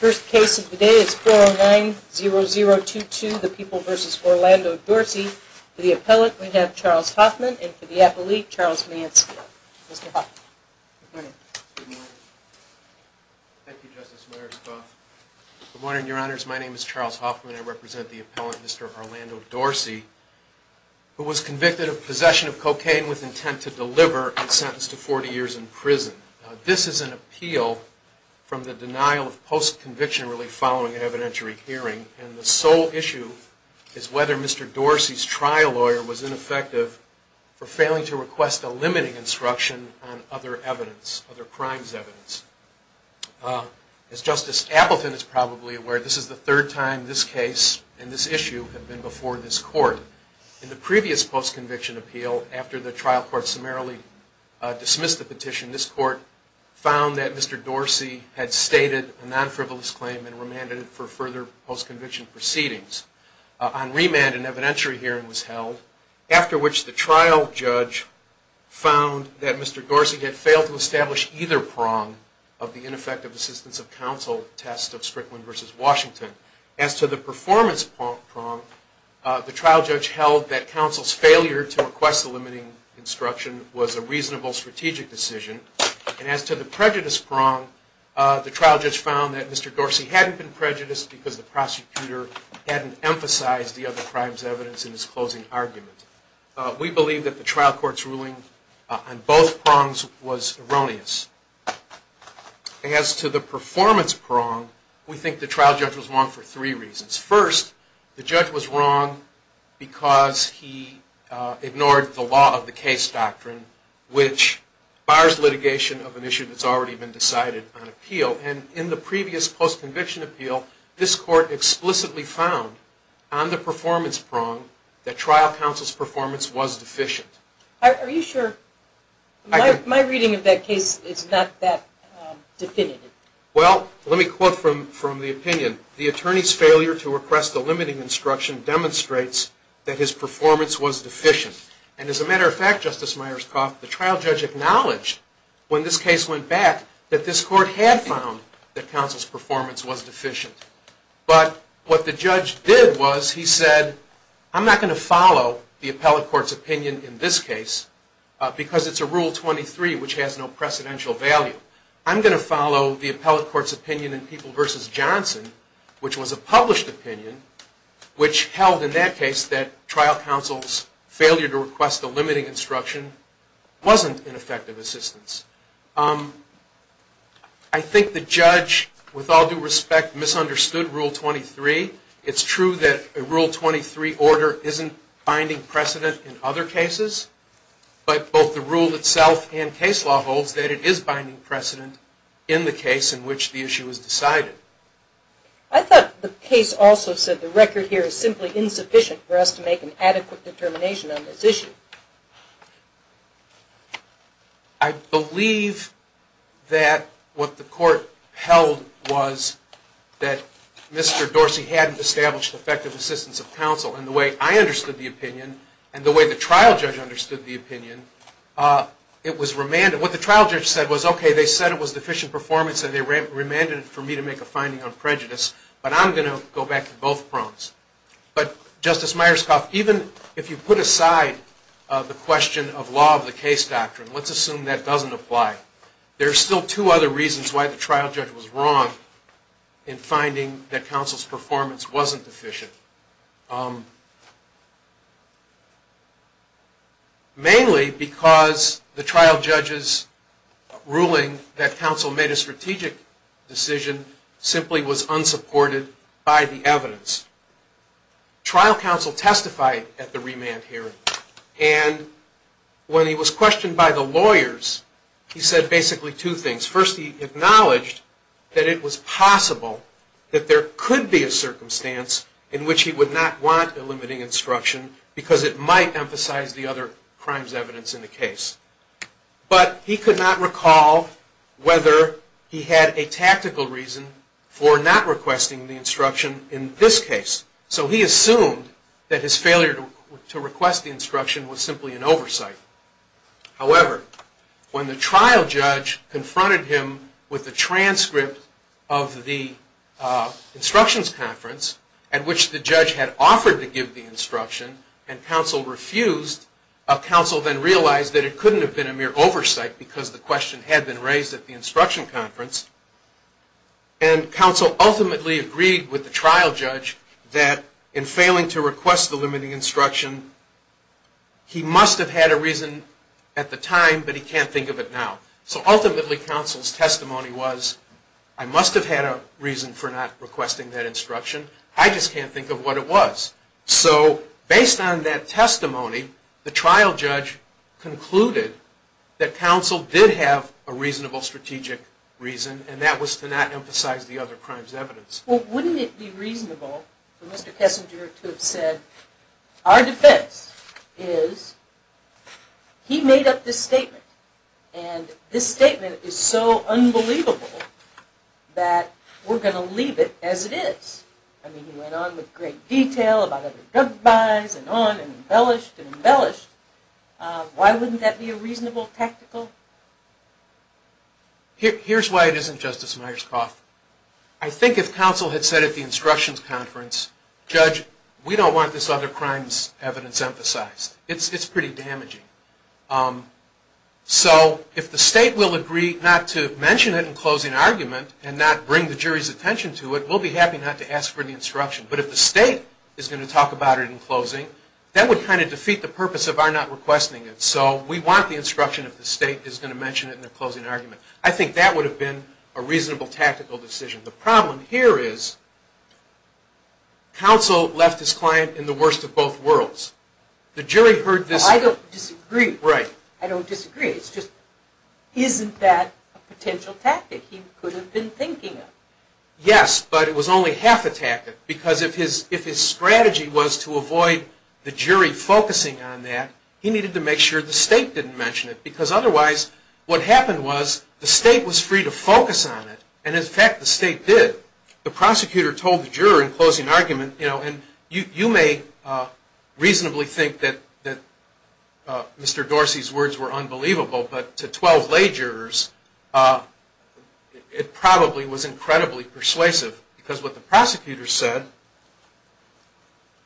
The first case of the day is 4090022, the People v. Orlando Dorsey. For the appellant, we have Charles Hoffman and for the appellate, Charles Mansfield. Mr. Hoffman. Good morning, Your Honors. My name is Charles Hoffman. I represent the appellant, Mr. Orlando Dorsey, who was convicted of possession of cocaine with intent to deliver and sentenced to 40 years in prison. This is an appeal from the denial of post-conviction relief following an evidentiary hearing, and the sole issue is whether Mr. Dorsey's trial lawyer was ineffective for failing to request a limiting instruction on other evidence, other crimes evidence. As Justice Appleton is probably aware, this is the third time this case and this issue have been before this Court. In the previous post-conviction appeal, after the trial court summarily dismissed the petition, this Court found that Mr. Dorsey had stated a non-frivolous claim and remanded it for further post-conviction proceedings. On remand, an evidentiary hearing was held, after which the trial judge found that Mr. Dorsey had failed to establish either prong of the ineffective assistance of counsel test of Strickland v. Washington. As to the performance prong, the trial judge held that counsel's failure to request a limiting instruction was a reasonable strategic decision, and as to the prejudice prong, the trial judge found that Mr. Dorsey hadn't been prejudiced because the prosecutor hadn't emphasized the other crimes evidence in his closing argument. We believe that the trial court's ruling on both prongs was erroneous. As to the performance prong, we think the trial judge was wrong for three reasons. First, the judge was wrong because he ignored the law of the case doctrine which bars litigation of an issue that's already been decided on appeal, and in the previous post-conviction appeal, this Court explicitly found on the performance prong that trial counsel's performance was deficient. Are you sure? My reading of that case is not that definitive. Well, let me quote from the opinion. The attorney's failure to request a limiting instruction demonstrates that his performance was deficient, and as a matter of fact, Justice Myers-Croft, the trial judge acknowledged when this case went back that this Court had found that counsel's performance was deficient. But what the judge did was he said, I'm not going to follow the appellate court's opinion in this case because it's a Rule 23 which has no precedential value. I'm going to follow the appellate court's opinion in People v. Johnson, which was a published opinion, which held in that case that trial counsel's failure to request a limiting instruction wasn't an effective assistance. I think the judge, with all due respect, misunderstood Rule 23. It's true that a Rule 23 order isn't binding precedent in other cases, but both the rule itself and case law holds that it is binding precedent in the case in which the issue was decided. I thought the case also said the record here was simply insufficient for us to make an adequate determination on this issue. I believe that what the Court held was that Mr. Dorsey hadn't established effective assistance of counsel, and the way I understood the opinion and the way the trial judge understood the opinion, it was remanded. What the trial judge said was, okay, they said it was deficient performance and they remanded it for me to make a finding on prejudice, but I'm going to go back to both prongs. But Justice Myerscough, even if you put aside the question of law of the case doctrine, let's assume that doesn't apply, there are still two other reasons why the trial judge was wrong in finding that counsel's performance wasn't deficient. Mainly because the trial judge's ruling that counsel made a strategic decision simply was unsupported by the evidence. Trial counsel testified at the remand hearing, and when he was questioned by the lawyers, he said basically two things. First, he acknowledged that it was possible that there could be a circumstance in which he would not want a limiting instruction because it might emphasize the other crimes evidence in the case. But he could not recall whether he had a tactical reason for not requesting the instruction in this case. So he assumed that his failure to request the instruction was simply an oversight. However, when the trial judge confronted him with the transcript of the instructions conference at which the judge had offered to give the instruction and counsel refused, counsel then realized that it couldn't have been a mere oversight because the question had been raised at the instruction conference. And counsel ultimately agreed with the trial judge that in failing to request the limiting instruction, he must have had a reason at the time, but he can't think of it now. So ultimately, counsel's testimony was, I must have had a reason for not requesting that instruction. I just can't think of what it was. So based on that testimony, the trial judge concluded that counsel did have a reasonable strategic reason and that was to not emphasize the other crimes evidence. Well, wouldn't it be reasonable for Mr. Kessinger to have said, our defense is he made up this statement and this statement is so unbelievable that we're going to leave it as it is. I mean, it's embellished. Why wouldn't that be a reasonable tactical? Here's why it isn't, Justice Myers-Koth. I think if counsel had said at the instructions conference, judge, we don't want this other crimes evidence emphasized. It's pretty damaging. So if the state will agree not to mention it in closing argument and not bring the jury's attention to it, we'll be happy not to ask for the instruction. But if the state is going to talk about it in closing, that would kind of defeat the purpose of our not requesting it. So we want the instruction if the state is going to mention it in their closing argument. I think that would have been a reasonable tactical decision. The problem here is, counsel left his client in the worst of both worlds. The jury heard this... Well, I don't disagree. Right. I don't disagree. It's just, isn't that a potential tactic he could have been thinking of? Yes, but it was only half a tactic. Because if his strategy was to avoid the jury focusing on that, he needed to make sure the state didn't mention it. Because otherwise, what happened was, the state was free to focus on it. And in fact, the state did. The prosecutor told the juror in closing argument, you know, and you may reasonably think that Mr. Dorsey's arguments were unbelievable, but to 12 lay jurors, it probably was incredibly persuasive. Because what the prosecutor said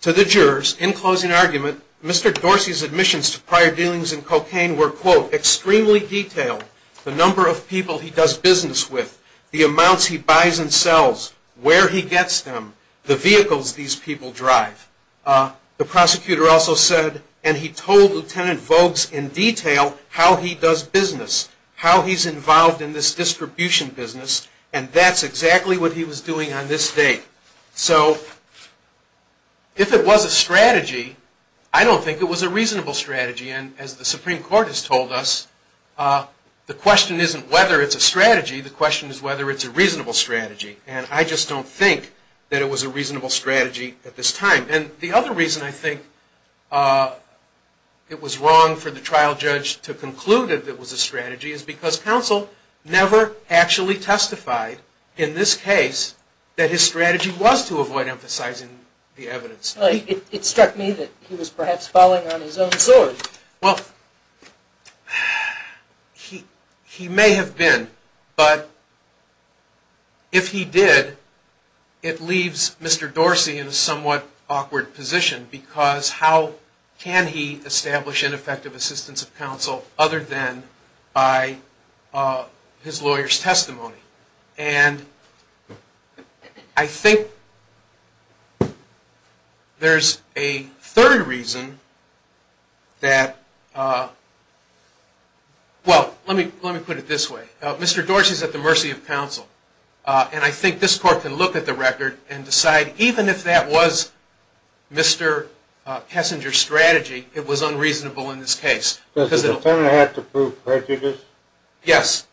to the jurors in closing argument, Mr. Dorsey's admissions to prior dealings in cocaine were, quote, extremely detailed. The number of people he does business with, the amounts he buys and sells, where he gets them, the vehicles these people drive. The prosecutor also said, and he told Lieutenant Voges in detail, how he does business, how he's involved in this distribution business, and that's exactly what he was doing on this date. So if it was a strategy, I don't think it was a reasonable strategy. And as the Supreme Court has told us, the question isn't whether it's a strategy, the question is whether it's a reasonable strategy. And I just don't think that it was a reasonable strategy at this time. And the other reason I think it was wrong for the trial judge to conclude that it was a strategy is because counsel never actually testified in this case that his strategy was to avoid emphasizing the evidence. Well, it struck me that he was perhaps following on his own sword. Well, he may have been, but if he did, it leaves Mr. Dorsey in a somewhat awkward position because how can he establish ineffective assistance of counsel other than by his lawyer's testimony? And I think there's a third reason that, well, let me put it this way. Mr. Dorsey is at the mercy of counsel, and I think this Court can look at the record and decide even if that was Mr. Kessinger's strategy, it was unreasonable in this case. Does the Department have to prove prejudice? Yes.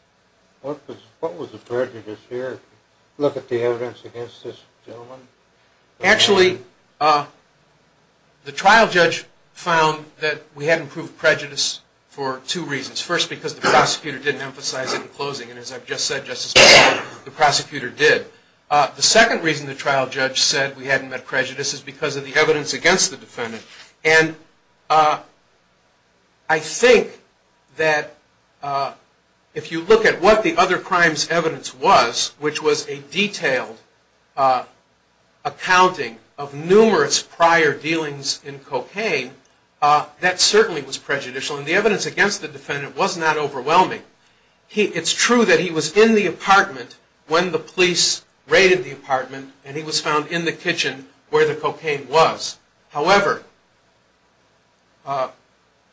What was the prejudice here? Look at the evidence against this gentleman. Actually, the trial judge found that we hadn't proved prejudice for two reasons. First, because the prosecutor didn't emphasize it in closing, and as I've just said, Justice Breyer, the prosecutor did. The second reason the trial judge said we hadn't met prejudice is because of the evidence against the defendant. And I think that if you look at what the other crime's evidence was, which was a detailed accounting of numerous prior dealings in cocaine, that certainly was prejudicial. And the evidence against the defendant was not overwhelming. It's true that he was in the apartment when the police raided the apartment, and he was found in the kitchen where the cocaine was. However,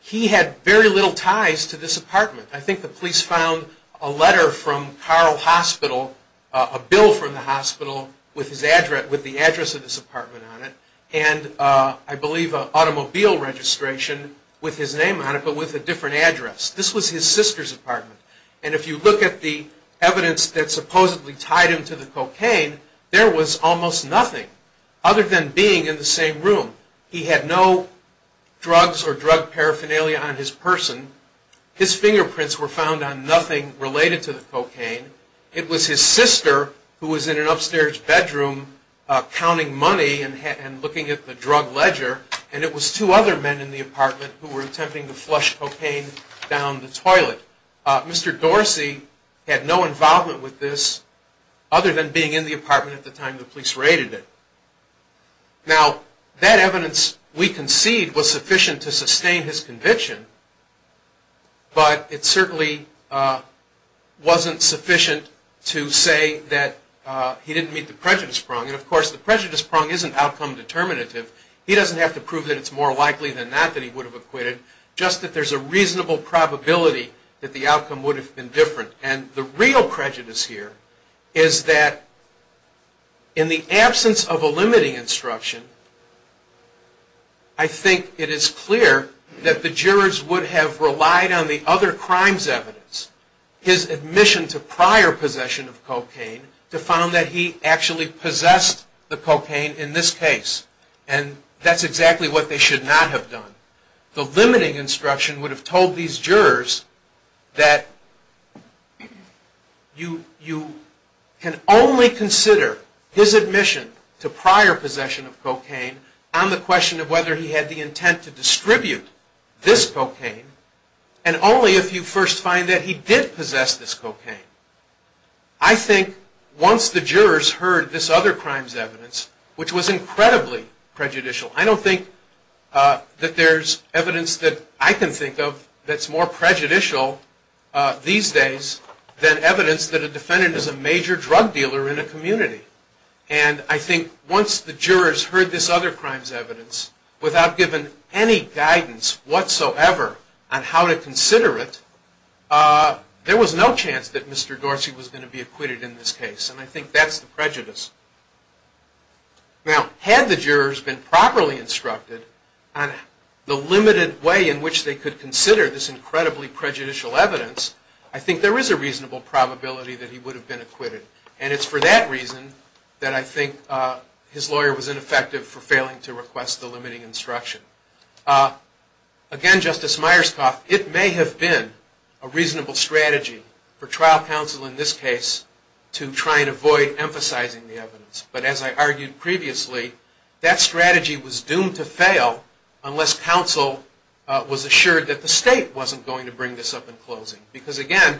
he had very little ties to this apartment. I think the police found a letter from Carle Hospital, a bill from the hospital with the address of this apartment on it, and I believe an automobile registration with his name on it, but with a different address. This was his sister's apartment. And if you look at the evidence that supposedly tied him to the cocaine, there was almost nothing other than being in the same room. He had no drugs or drug paraphernalia on his person. His fingerprints were found on nothing related to the cocaine. It was his sister who was in an upstairs bedroom counting money and looking at the drug ledger, and it was two other men in the apartment who were attempting to flush cocaine down the toilet. Mr. Dorsey had no involvement with this other than being in the apartment at the time the police raided it. Now, that evidence we concede was sufficient to sustain his conviction, but it certainly wasn't sufficient to say that he didn't meet the prejudice prong. And of course, the prejudice prong isn't outcome determinative. He doesn't have to prove that it's more likely than not that he would have acquitted, just that there's a reasonable probability that the outcome would have been different. And the real prejudice here is that in the absence of a limiting instruction, I think it is clear that the jurors would have relied on the other crime's evidence, his admission to prior possession of cocaine, to found that he actually possessed the cocaine in this case. And that's exactly what they should not have done. The limiting instruction would have told these jurors that you can only consider his admission to prior possession of cocaine on the question of whether he had the intent to distribute this cocaine, and only if you first find that he did possess this cocaine. I think once the jurors heard this other crime's evidence, which was incredibly prejudicial, I don't think that there's evidence that I can think of that's more prejudicial these days than evidence that a defendant is a major drug dealer in a community. And I think once the jurors heard this other crime's evidence without giving any guidance whatsoever on how to consider it, there was no chance that Mr. Dorsey was going to be acquitted in this case. And I think that's the prejudice. Now had the jurors been properly instructed on the limited way in which they could consider this incredibly prejudicial evidence, I think there is a reasonable probability that he would have been acquitted. And it's for that reason that I think his lawyer was ineffective for failing to request the limiting instruction. Again, Justice Myerscough, it may have been a reasonable strategy for trial counsel in this case to try and avoid emphasizing the evidence. But as I argued previously, that strategy was doomed to fail unless counsel was assured that the state wasn't going to bring this up in closing. Because again,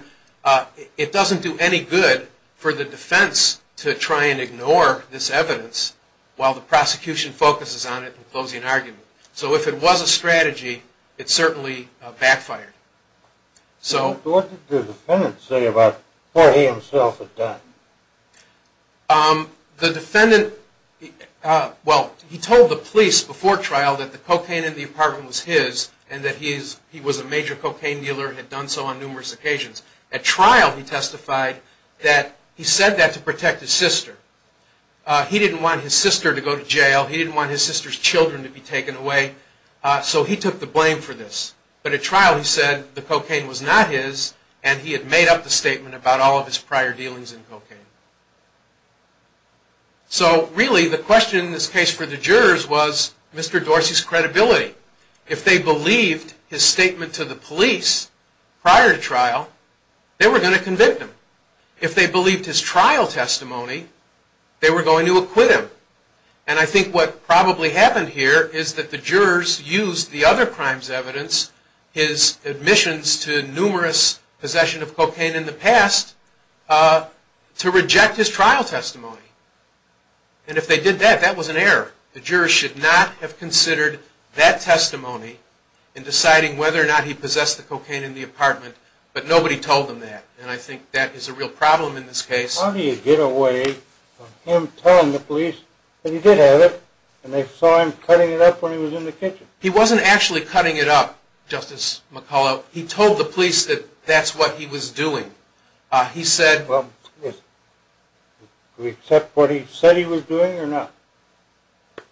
it doesn't do any good for the defense to try and ignore this evidence while the prosecution focuses on it in closing argument. So if it was a strategy, it certainly backfired. So what did the defendant say about what he himself had done? The defendant, well, he told the police before trial that the cocaine in the apartment was his and that he was a major cocaine dealer and had done so on numerous occasions. At trial he testified that he said that to protect his sister. He didn't want his sister to go to jail. He didn't want his sister's children to be taken away. So he took the blame for this. But at trial he said the cocaine was not his and he had made up the statement about all of his prior dealings in cocaine. So really the question in this case for the jurors was Mr. Dorsey's credibility. If they believed his statement to the police prior to trial, they were going to convict him. If they believed his trial testimony, they were going to acquit him. And I think what probably happened here is that the jurors used the other crime's evidence, his admissions to numerous possessions of cocaine in the past, to reject his trial testimony. And if they did that, that was an error. The jurors should not have considered that testimony in deciding whether or not he possessed the cocaine in the apartment. But nobody told them that. And I think that is a real problem in this case. How do you get away from him telling the police that he did have it and they saw him cutting it up when he was in the kitchen? He wasn't actually cutting it up, Justice McCullough. He told the police that that's what he was doing. He said... Well, do we accept what he said he was doing or not?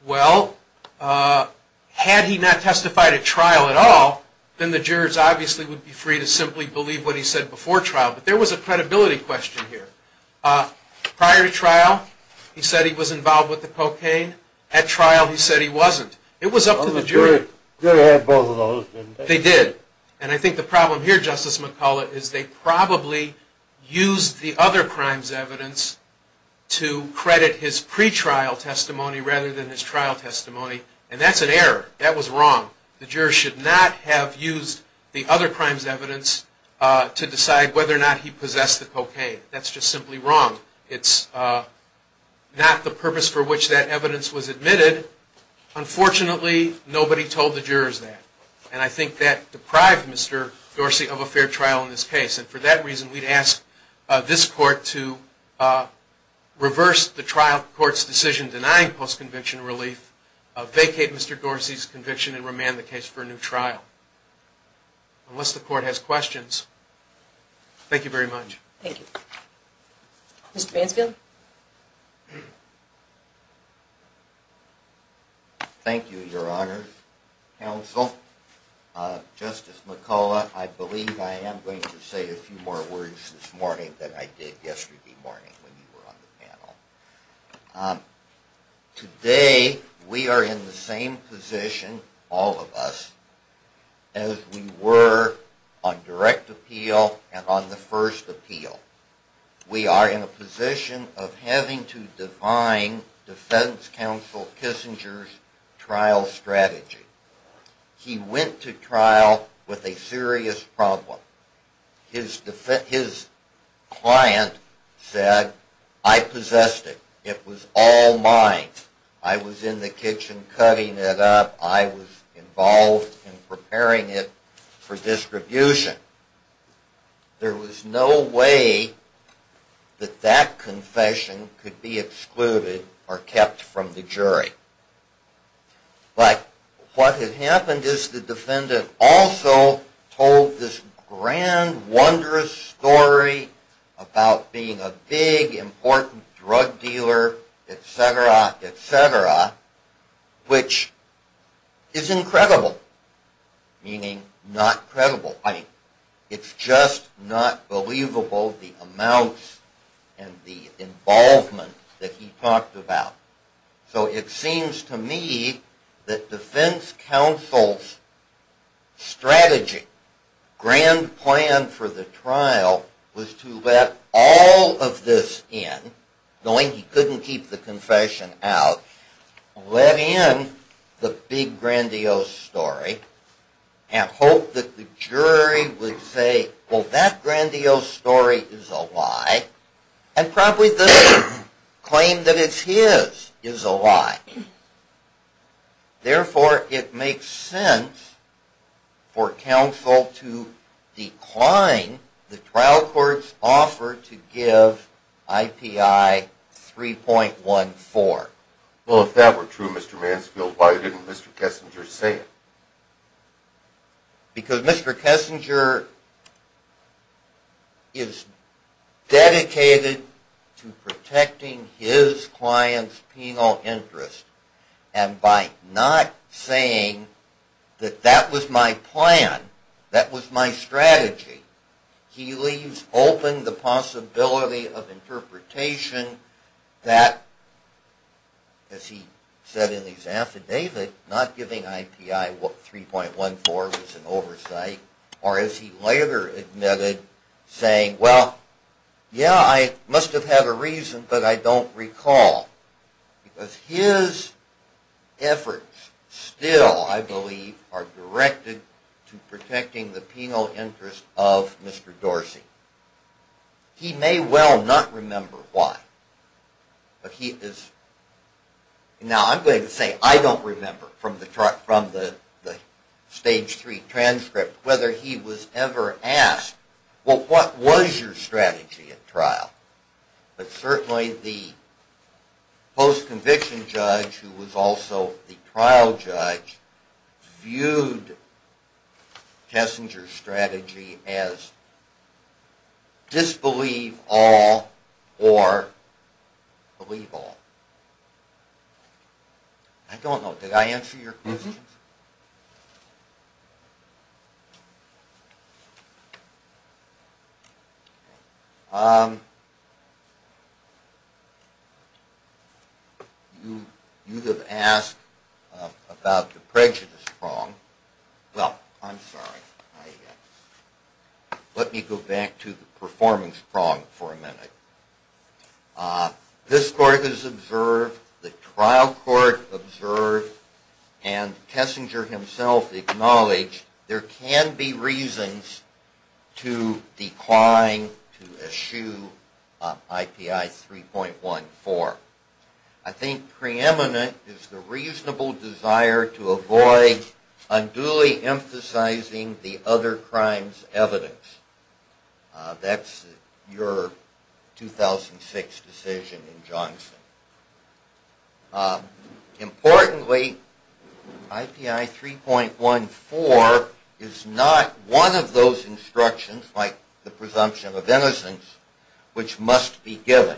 Well, had he not testified at trial at all, then the jurors obviously would be free to simply believe what he said before trial. But there was a credibility question here. Prior to trial, he said he was involved with the cocaine. At trial, he said he wasn't. It was up to the jurors. Well, the jurors did have both of those, didn't they? They did. And I think the problem here, Justice McCullough, is they probably used the other crime's evidence to credit his pretrial testimony rather than his trial testimony. And that's an error. That was wrong. The jurors should not have used the other crime's evidence to decide whether or not he possessed the cocaine. That's just simply wrong. It's not the purpose for which that evidence was admitted. Unfortunately, nobody told the jurors that. And I think that deprived Mr. Dorsey of a fair trial in this case. And for that reason, we'd ask this court to reverse the trial court's decision denying post-conviction relief, vacate Mr. Dorsey's conviction, and remand the case for a new trial. Unless the court has questions. Thank you very much. Thank you. Mr. Mansfield? Thank you, Your Honor, counsel. Justice McCullough, I believe I am going to say a few more words this morning than I did yesterday morning when you were on the panel. Today, we are in the same position, all of us, as we were on direct appeal and on the first appeal. We are in a position of having to define defense counsel Kissinger's trial strategy. He went to trial with a serious problem. His client said, I possessed it. It was all mine. I was in the kitchen cutting it up. I was involved in preparing it for distribution. There was no way that that confession could be excluded or kept from the jury. But what had happened is the defendant also told this grand, wondrous story about being a big, important drug dealer, etc., etc., which is incredible, meaning not credible. I mean, it's just not believable the amounts and the involvement that he talked about. So it seems to me that defense counsel Kissinger's strategy, grand plan for the trial, was to let all of this in, knowing he couldn't keep the confession out, let in the big, grandiose story and hope that the jury would say, well, that grandiose story is a lie and probably this claim that it's his is a lie. Therefore, it makes sense for counsel to decline the trial court's offer to give IPI 3.14. Well, if that were true, Mr. Mansfield, why didn't Mr. Kissinger say it? Because Mr. Kissinger is dedicated to protecting his client's penal interest. And by not saying that that was my plan, that was my strategy, he leaves open the possibility of interpretation that, as he said in his affidavit, not giving IPI 3.14 was an oversight, or as he later admitted, saying, well, yeah, I must have had a reason, but I don't recall. Because his efforts still, I believe, are directed to protecting the penal interest of Mr. Dorsey. He may well not remember why, but he is... Now, I'm going to say I don't remember from the stage three transcript whether he was ever asked, well, what was your strategy at all, and whether the judge, who was also the trial judge, viewed Kissinger's strategy as disbelieve all or believe all. I don't know. Did I answer your question? You have asked about the prejudice prong. Well, I'm sorry. Let me go back to the performance prong for a minute. This court has observed, the trial court observed, and the jury has Kissinger himself acknowledged, there can be reasons to decline, to eschew IPI 3.14. I think preeminent is the reasonable desire to avoid unduly emphasizing the other crime's evidence. That's your 2006 decision in Johnson. Importantly, I think it's important to recognize that IPI 3.14 is not one of those instructions, like the presumption of innocence, which must be given.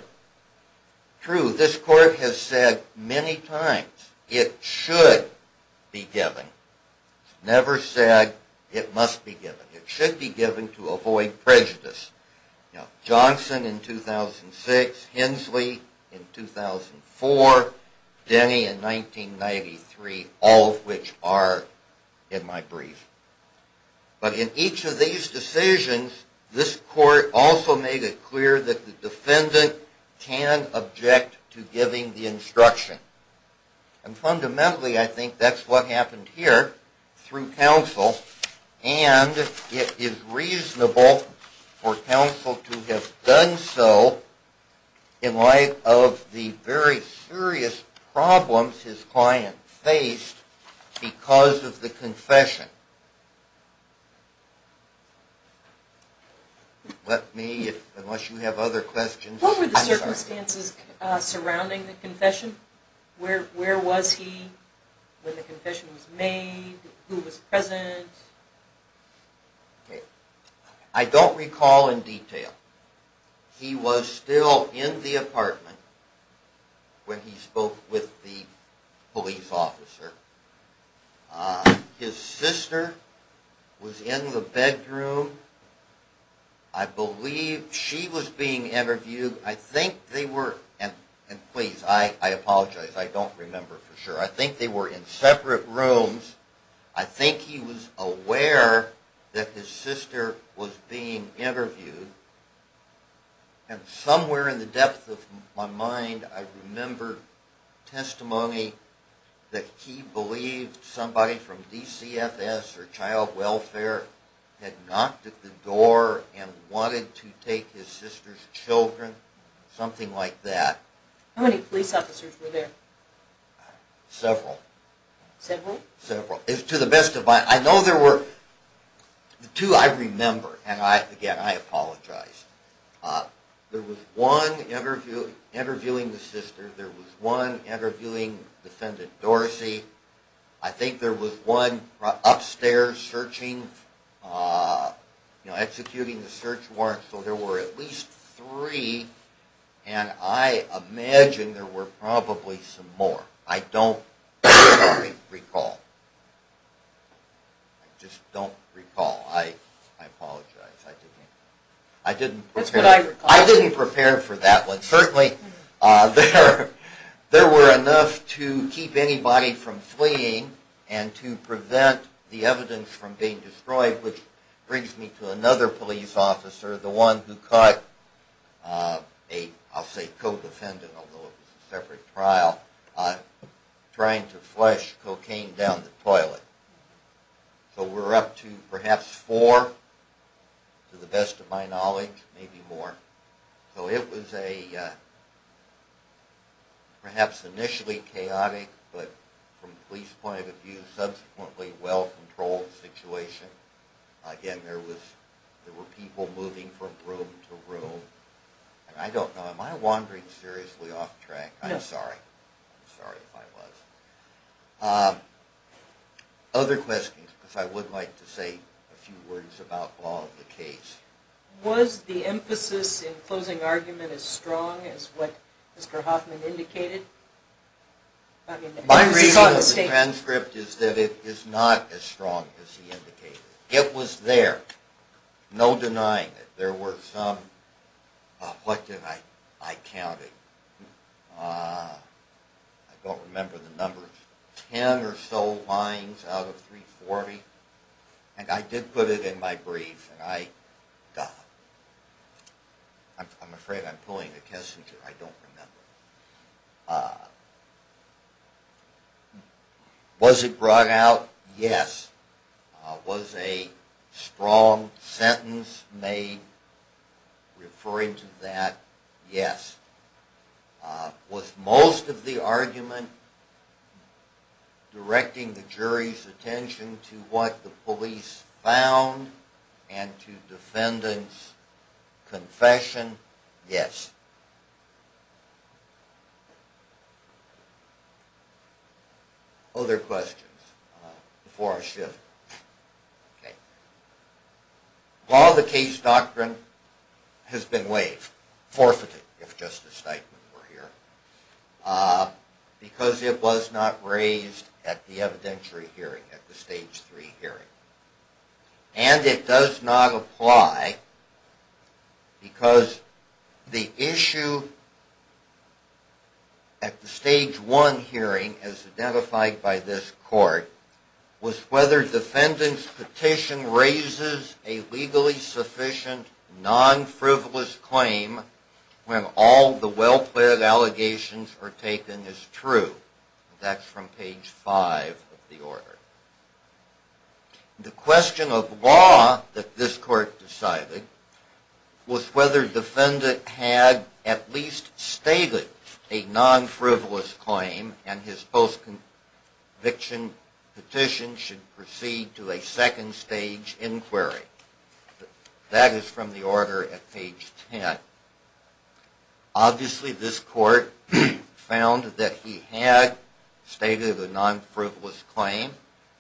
True, this court has said many times it should be given. It's never said it must be given. It should be given to avoid prejudice. Now, Johnson in 2006, Hensley in 2004, Denny in 1993, all of which are in my brief. But in each of these decisions, this court also made it clear that the defendant can object to giving the instruction. And fundamentally, I think that's what happened here through counsel, and it is reasonable for counsel to have done so in light of the very serious problems his client faced because of the confession. Let me, unless you have other questions. What were the circumstances surrounding the confession? Where was he when the confession was made? Who was present? Okay. I don't recall in detail. He was still in the apartment when he spoke with the police officer. His sister was in the bedroom. I believe she was being interviewed. I think they were, and please, I apologize, I don't remember for sure. I think they were in separate rooms. He was aware that his sister was being interviewed. And somewhere in the depth of my mind, I remember testimony that he believed somebody from DCFS or Child Welfare had knocked at the door and wanted to take his sister's children, something like that. How many police officers were there? Several. Several? Several. To the best of my, I know there were, two I remember, and again, I apologize. There was one interviewing the sister. There was one interviewing Defendant Dorsey. I think there was one upstairs searching, executing the search warrant. So there were at least three, and I imagine there were probably some more. I don't recall. I just don't recall. I apologize. I didn't prepare for that one. Certainly there were enough to keep anybody from fleeing and to prevent the evidence from being destroyed, which brings me to another police officer, the one who caught a, I'll call him a cop, trying to flush cocaine down the toilet. So we're up to perhaps four, to the best of my knowledge, maybe more. So it was a perhaps initially chaotic, but from the police point of view, subsequently well-controlled situation. Again, there were people moving from room to room. I don't know, am I wandering seriously off track? I'm sorry. I'm sorry if I was. Other questions, because I would like to say a few words about the law of the case. Was the emphasis in closing argument as strong as what Mr. Hoffman indicated? My reading of the transcript is that it is not as strong as he indicated. It was there, no denying it. There were some, what did I count it? I don't remember the numbers. Ten or so lines out of 340. And I did put it in my brief. I'm afraid I'm pulling a Kessinger. I don't remember. Was it brought out? Yes. Was a strong sentence made referring to that? Yes. Was most of the argument directing the jury's attention to what the police found and to defendant's confession? Yes. Other questions before I shift? Law of the case doctrine has been waived, forfeited if Justice Stikeman were here, because it was not raised at the evidentiary hearing, at the Stage 3 hearing. And it does not apply because the issue at the Stage 1 hearing, as identified by this court, was whether defendant's petition raises a legally sufficient, non-frivolous claim when all the well-planned allegations are taken as true. That's from page 5 of the order. The question of law that this court decided was whether defendant had at least stated a non-frivolous claim and his post-conviction petition should proceed to a second-stage inquiry. That is from the order at page 10. Obviously this court found that he had stated a non-frivolous claim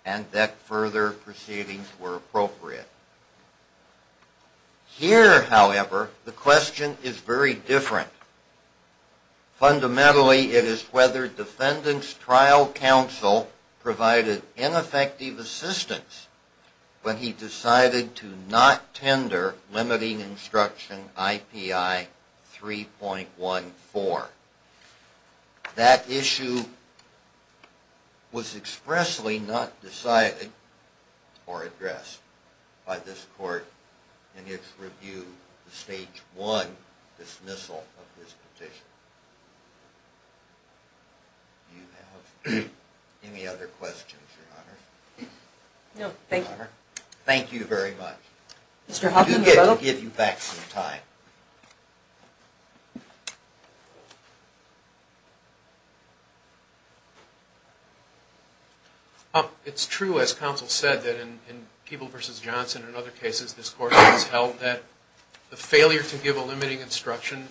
and that further proceedings were appropriate. Here, however, the question is very different. Fundamentally, it is whether defendant's trial counsel provided ineffective assistance when he decided to not tender limiting instruction IPI 3.14. That issue was not raised and was expressly not decided or addressed by this court in its review of the Stage 1 dismissal of this petition. Do you have any other questions, Your Honor? No, thank you. Thank you very much. Mr. Hawkins, you're welcome. I do wish I could give you back some time. It's true, as counsel said, that in Peeble v. Johnson and other cases, this court has held that the failure to give a limiting instruction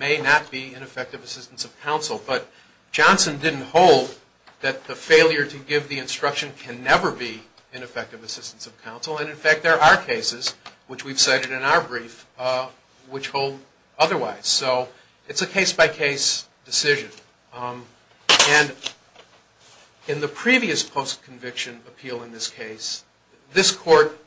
may not be ineffective assistance of counsel. But Johnson didn't hold that the failure to give the instruction can never be ineffective assistance of counsel. And in fact, there are cases, which we've cited in our brief, which hold otherwise. So it's a case-by-case decision. And in the previous post-conviction appeal in this case, this court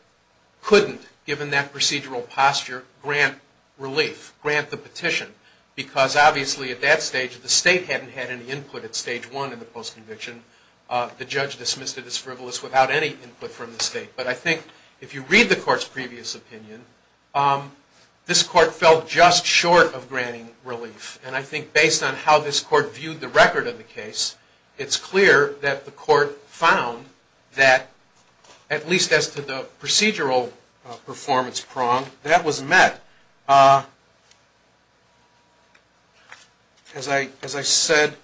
couldn't, given that procedural posture, grant relief, grant the petition. Because obviously, at that stage, the state hadn't had any input at Stage 1 in the post-conviction. The judge dismissed it as frivolous without any input from the state. But I think if you read the court's previous opinion, this court fell just short of granting relief. And I think based on how this court viewed the record of the case, it's clear that the court found that, at least as to the procedural performance prong, that was met. As I said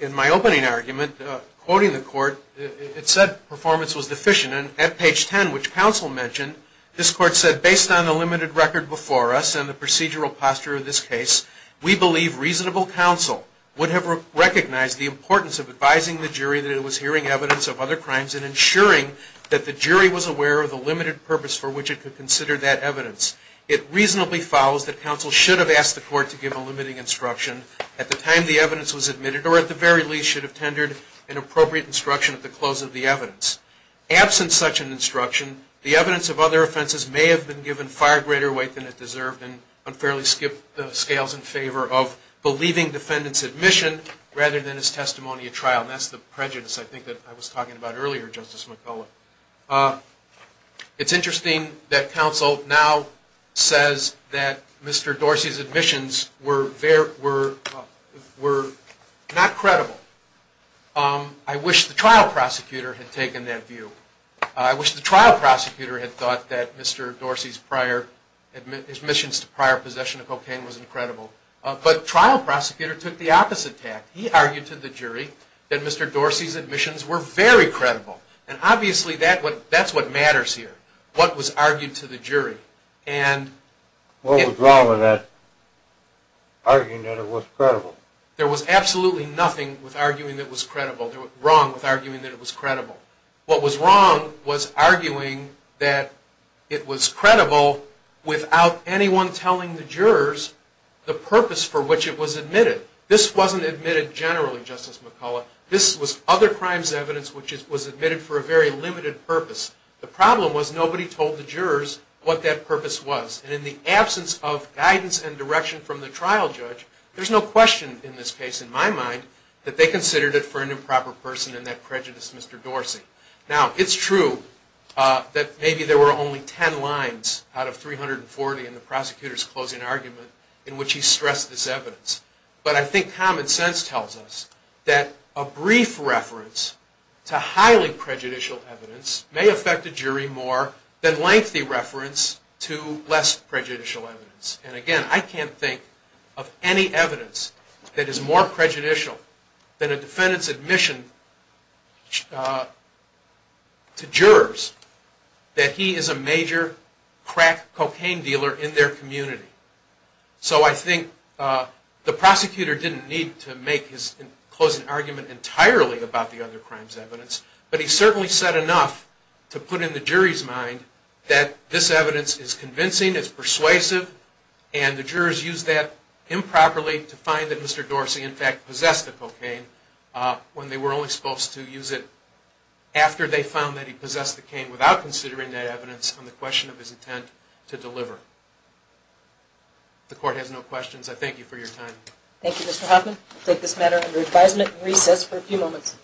in my opening argument, quoting the court, it said performance was deficient. And at page 10, which counsel mentioned, this court said, based on the limited record before us and the procedural posture of this case, we believe reasonable counsel would have recognized the importance of advising the jury that it was hearing evidence of other crimes and ensuring that the jury was aware of the limited purpose for which it could consider that evidence. It reasonably follows that counsel should have asked the court to give a limiting instruction at the time the evidence was admitted, or at the very least should have tendered an appropriate instruction at the close of the evidence. Absent such an instruction, the evidence of other offenses may have been given far greater weight than it deserved and unfairly skipped the scales in favor of believing defendant's admission rather than his testimony at trial. And that's the prejudice, I think, that I was talking about earlier, Justice McCullough. It's interesting that counsel now says that Mr. Dorsey's admissions were not credible. I wish the trial prosecutor had taken that view. I wish the trial prosecutor had thought that Mr. Dorsey's prior, his admissions to prior possession of cocaine was incredible. But trial prosecutor took the opposite tack. He argued to the jury that Mr. Dorsey's admissions were very credible. And obviously that's what matters here, what was argued to the jury. What was wrong with that, arguing that it was credible? There was absolutely nothing wrong with arguing that it was credible. What was wrong was arguing that it was credible without anyone telling the jurors the purpose for which it was admitted. This wasn't admitted generally, Justice McCullough. This was other crimes evidence which was admitted for a very limited purpose. The problem was nobody told the jurors what that purpose was. And in the absence of guidance and direction from the trial judge, there's no question in this case, in my mind, that they considered it for an improper person and that prejudice Mr. Dorsey. Now it's true that maybe there were only 10 lines out of 340 in the prosecutor's closing argument in which he stressed this evidence. But I think common sense tells us that a brief reference to highly prejudicial evidence may affect a jury more than lengthy reference to less prejudicial evidence. And again, I can't think of any evidence that is more prejudicial than a defendant's admission to jurors that he is a major crack cocaine dealer in their community. So I think the prosecutor didn't need to make his closing argument entirely about the other crimes evidence. But he certainly said enough to put in the jury's mind that this evidence is convincing, it's persuasive, and the jurors used that improperly to find that Mr. Dorsey in fact possessed the cocaine when they were only supposed to use it after they found that he possessed the cane without considering that evidence on the question of his intent to deliver. The court has no questions. I thank you for your time. Thank you, Mr. Hoffman. We'll take this matter under advisement and recess for a few moments.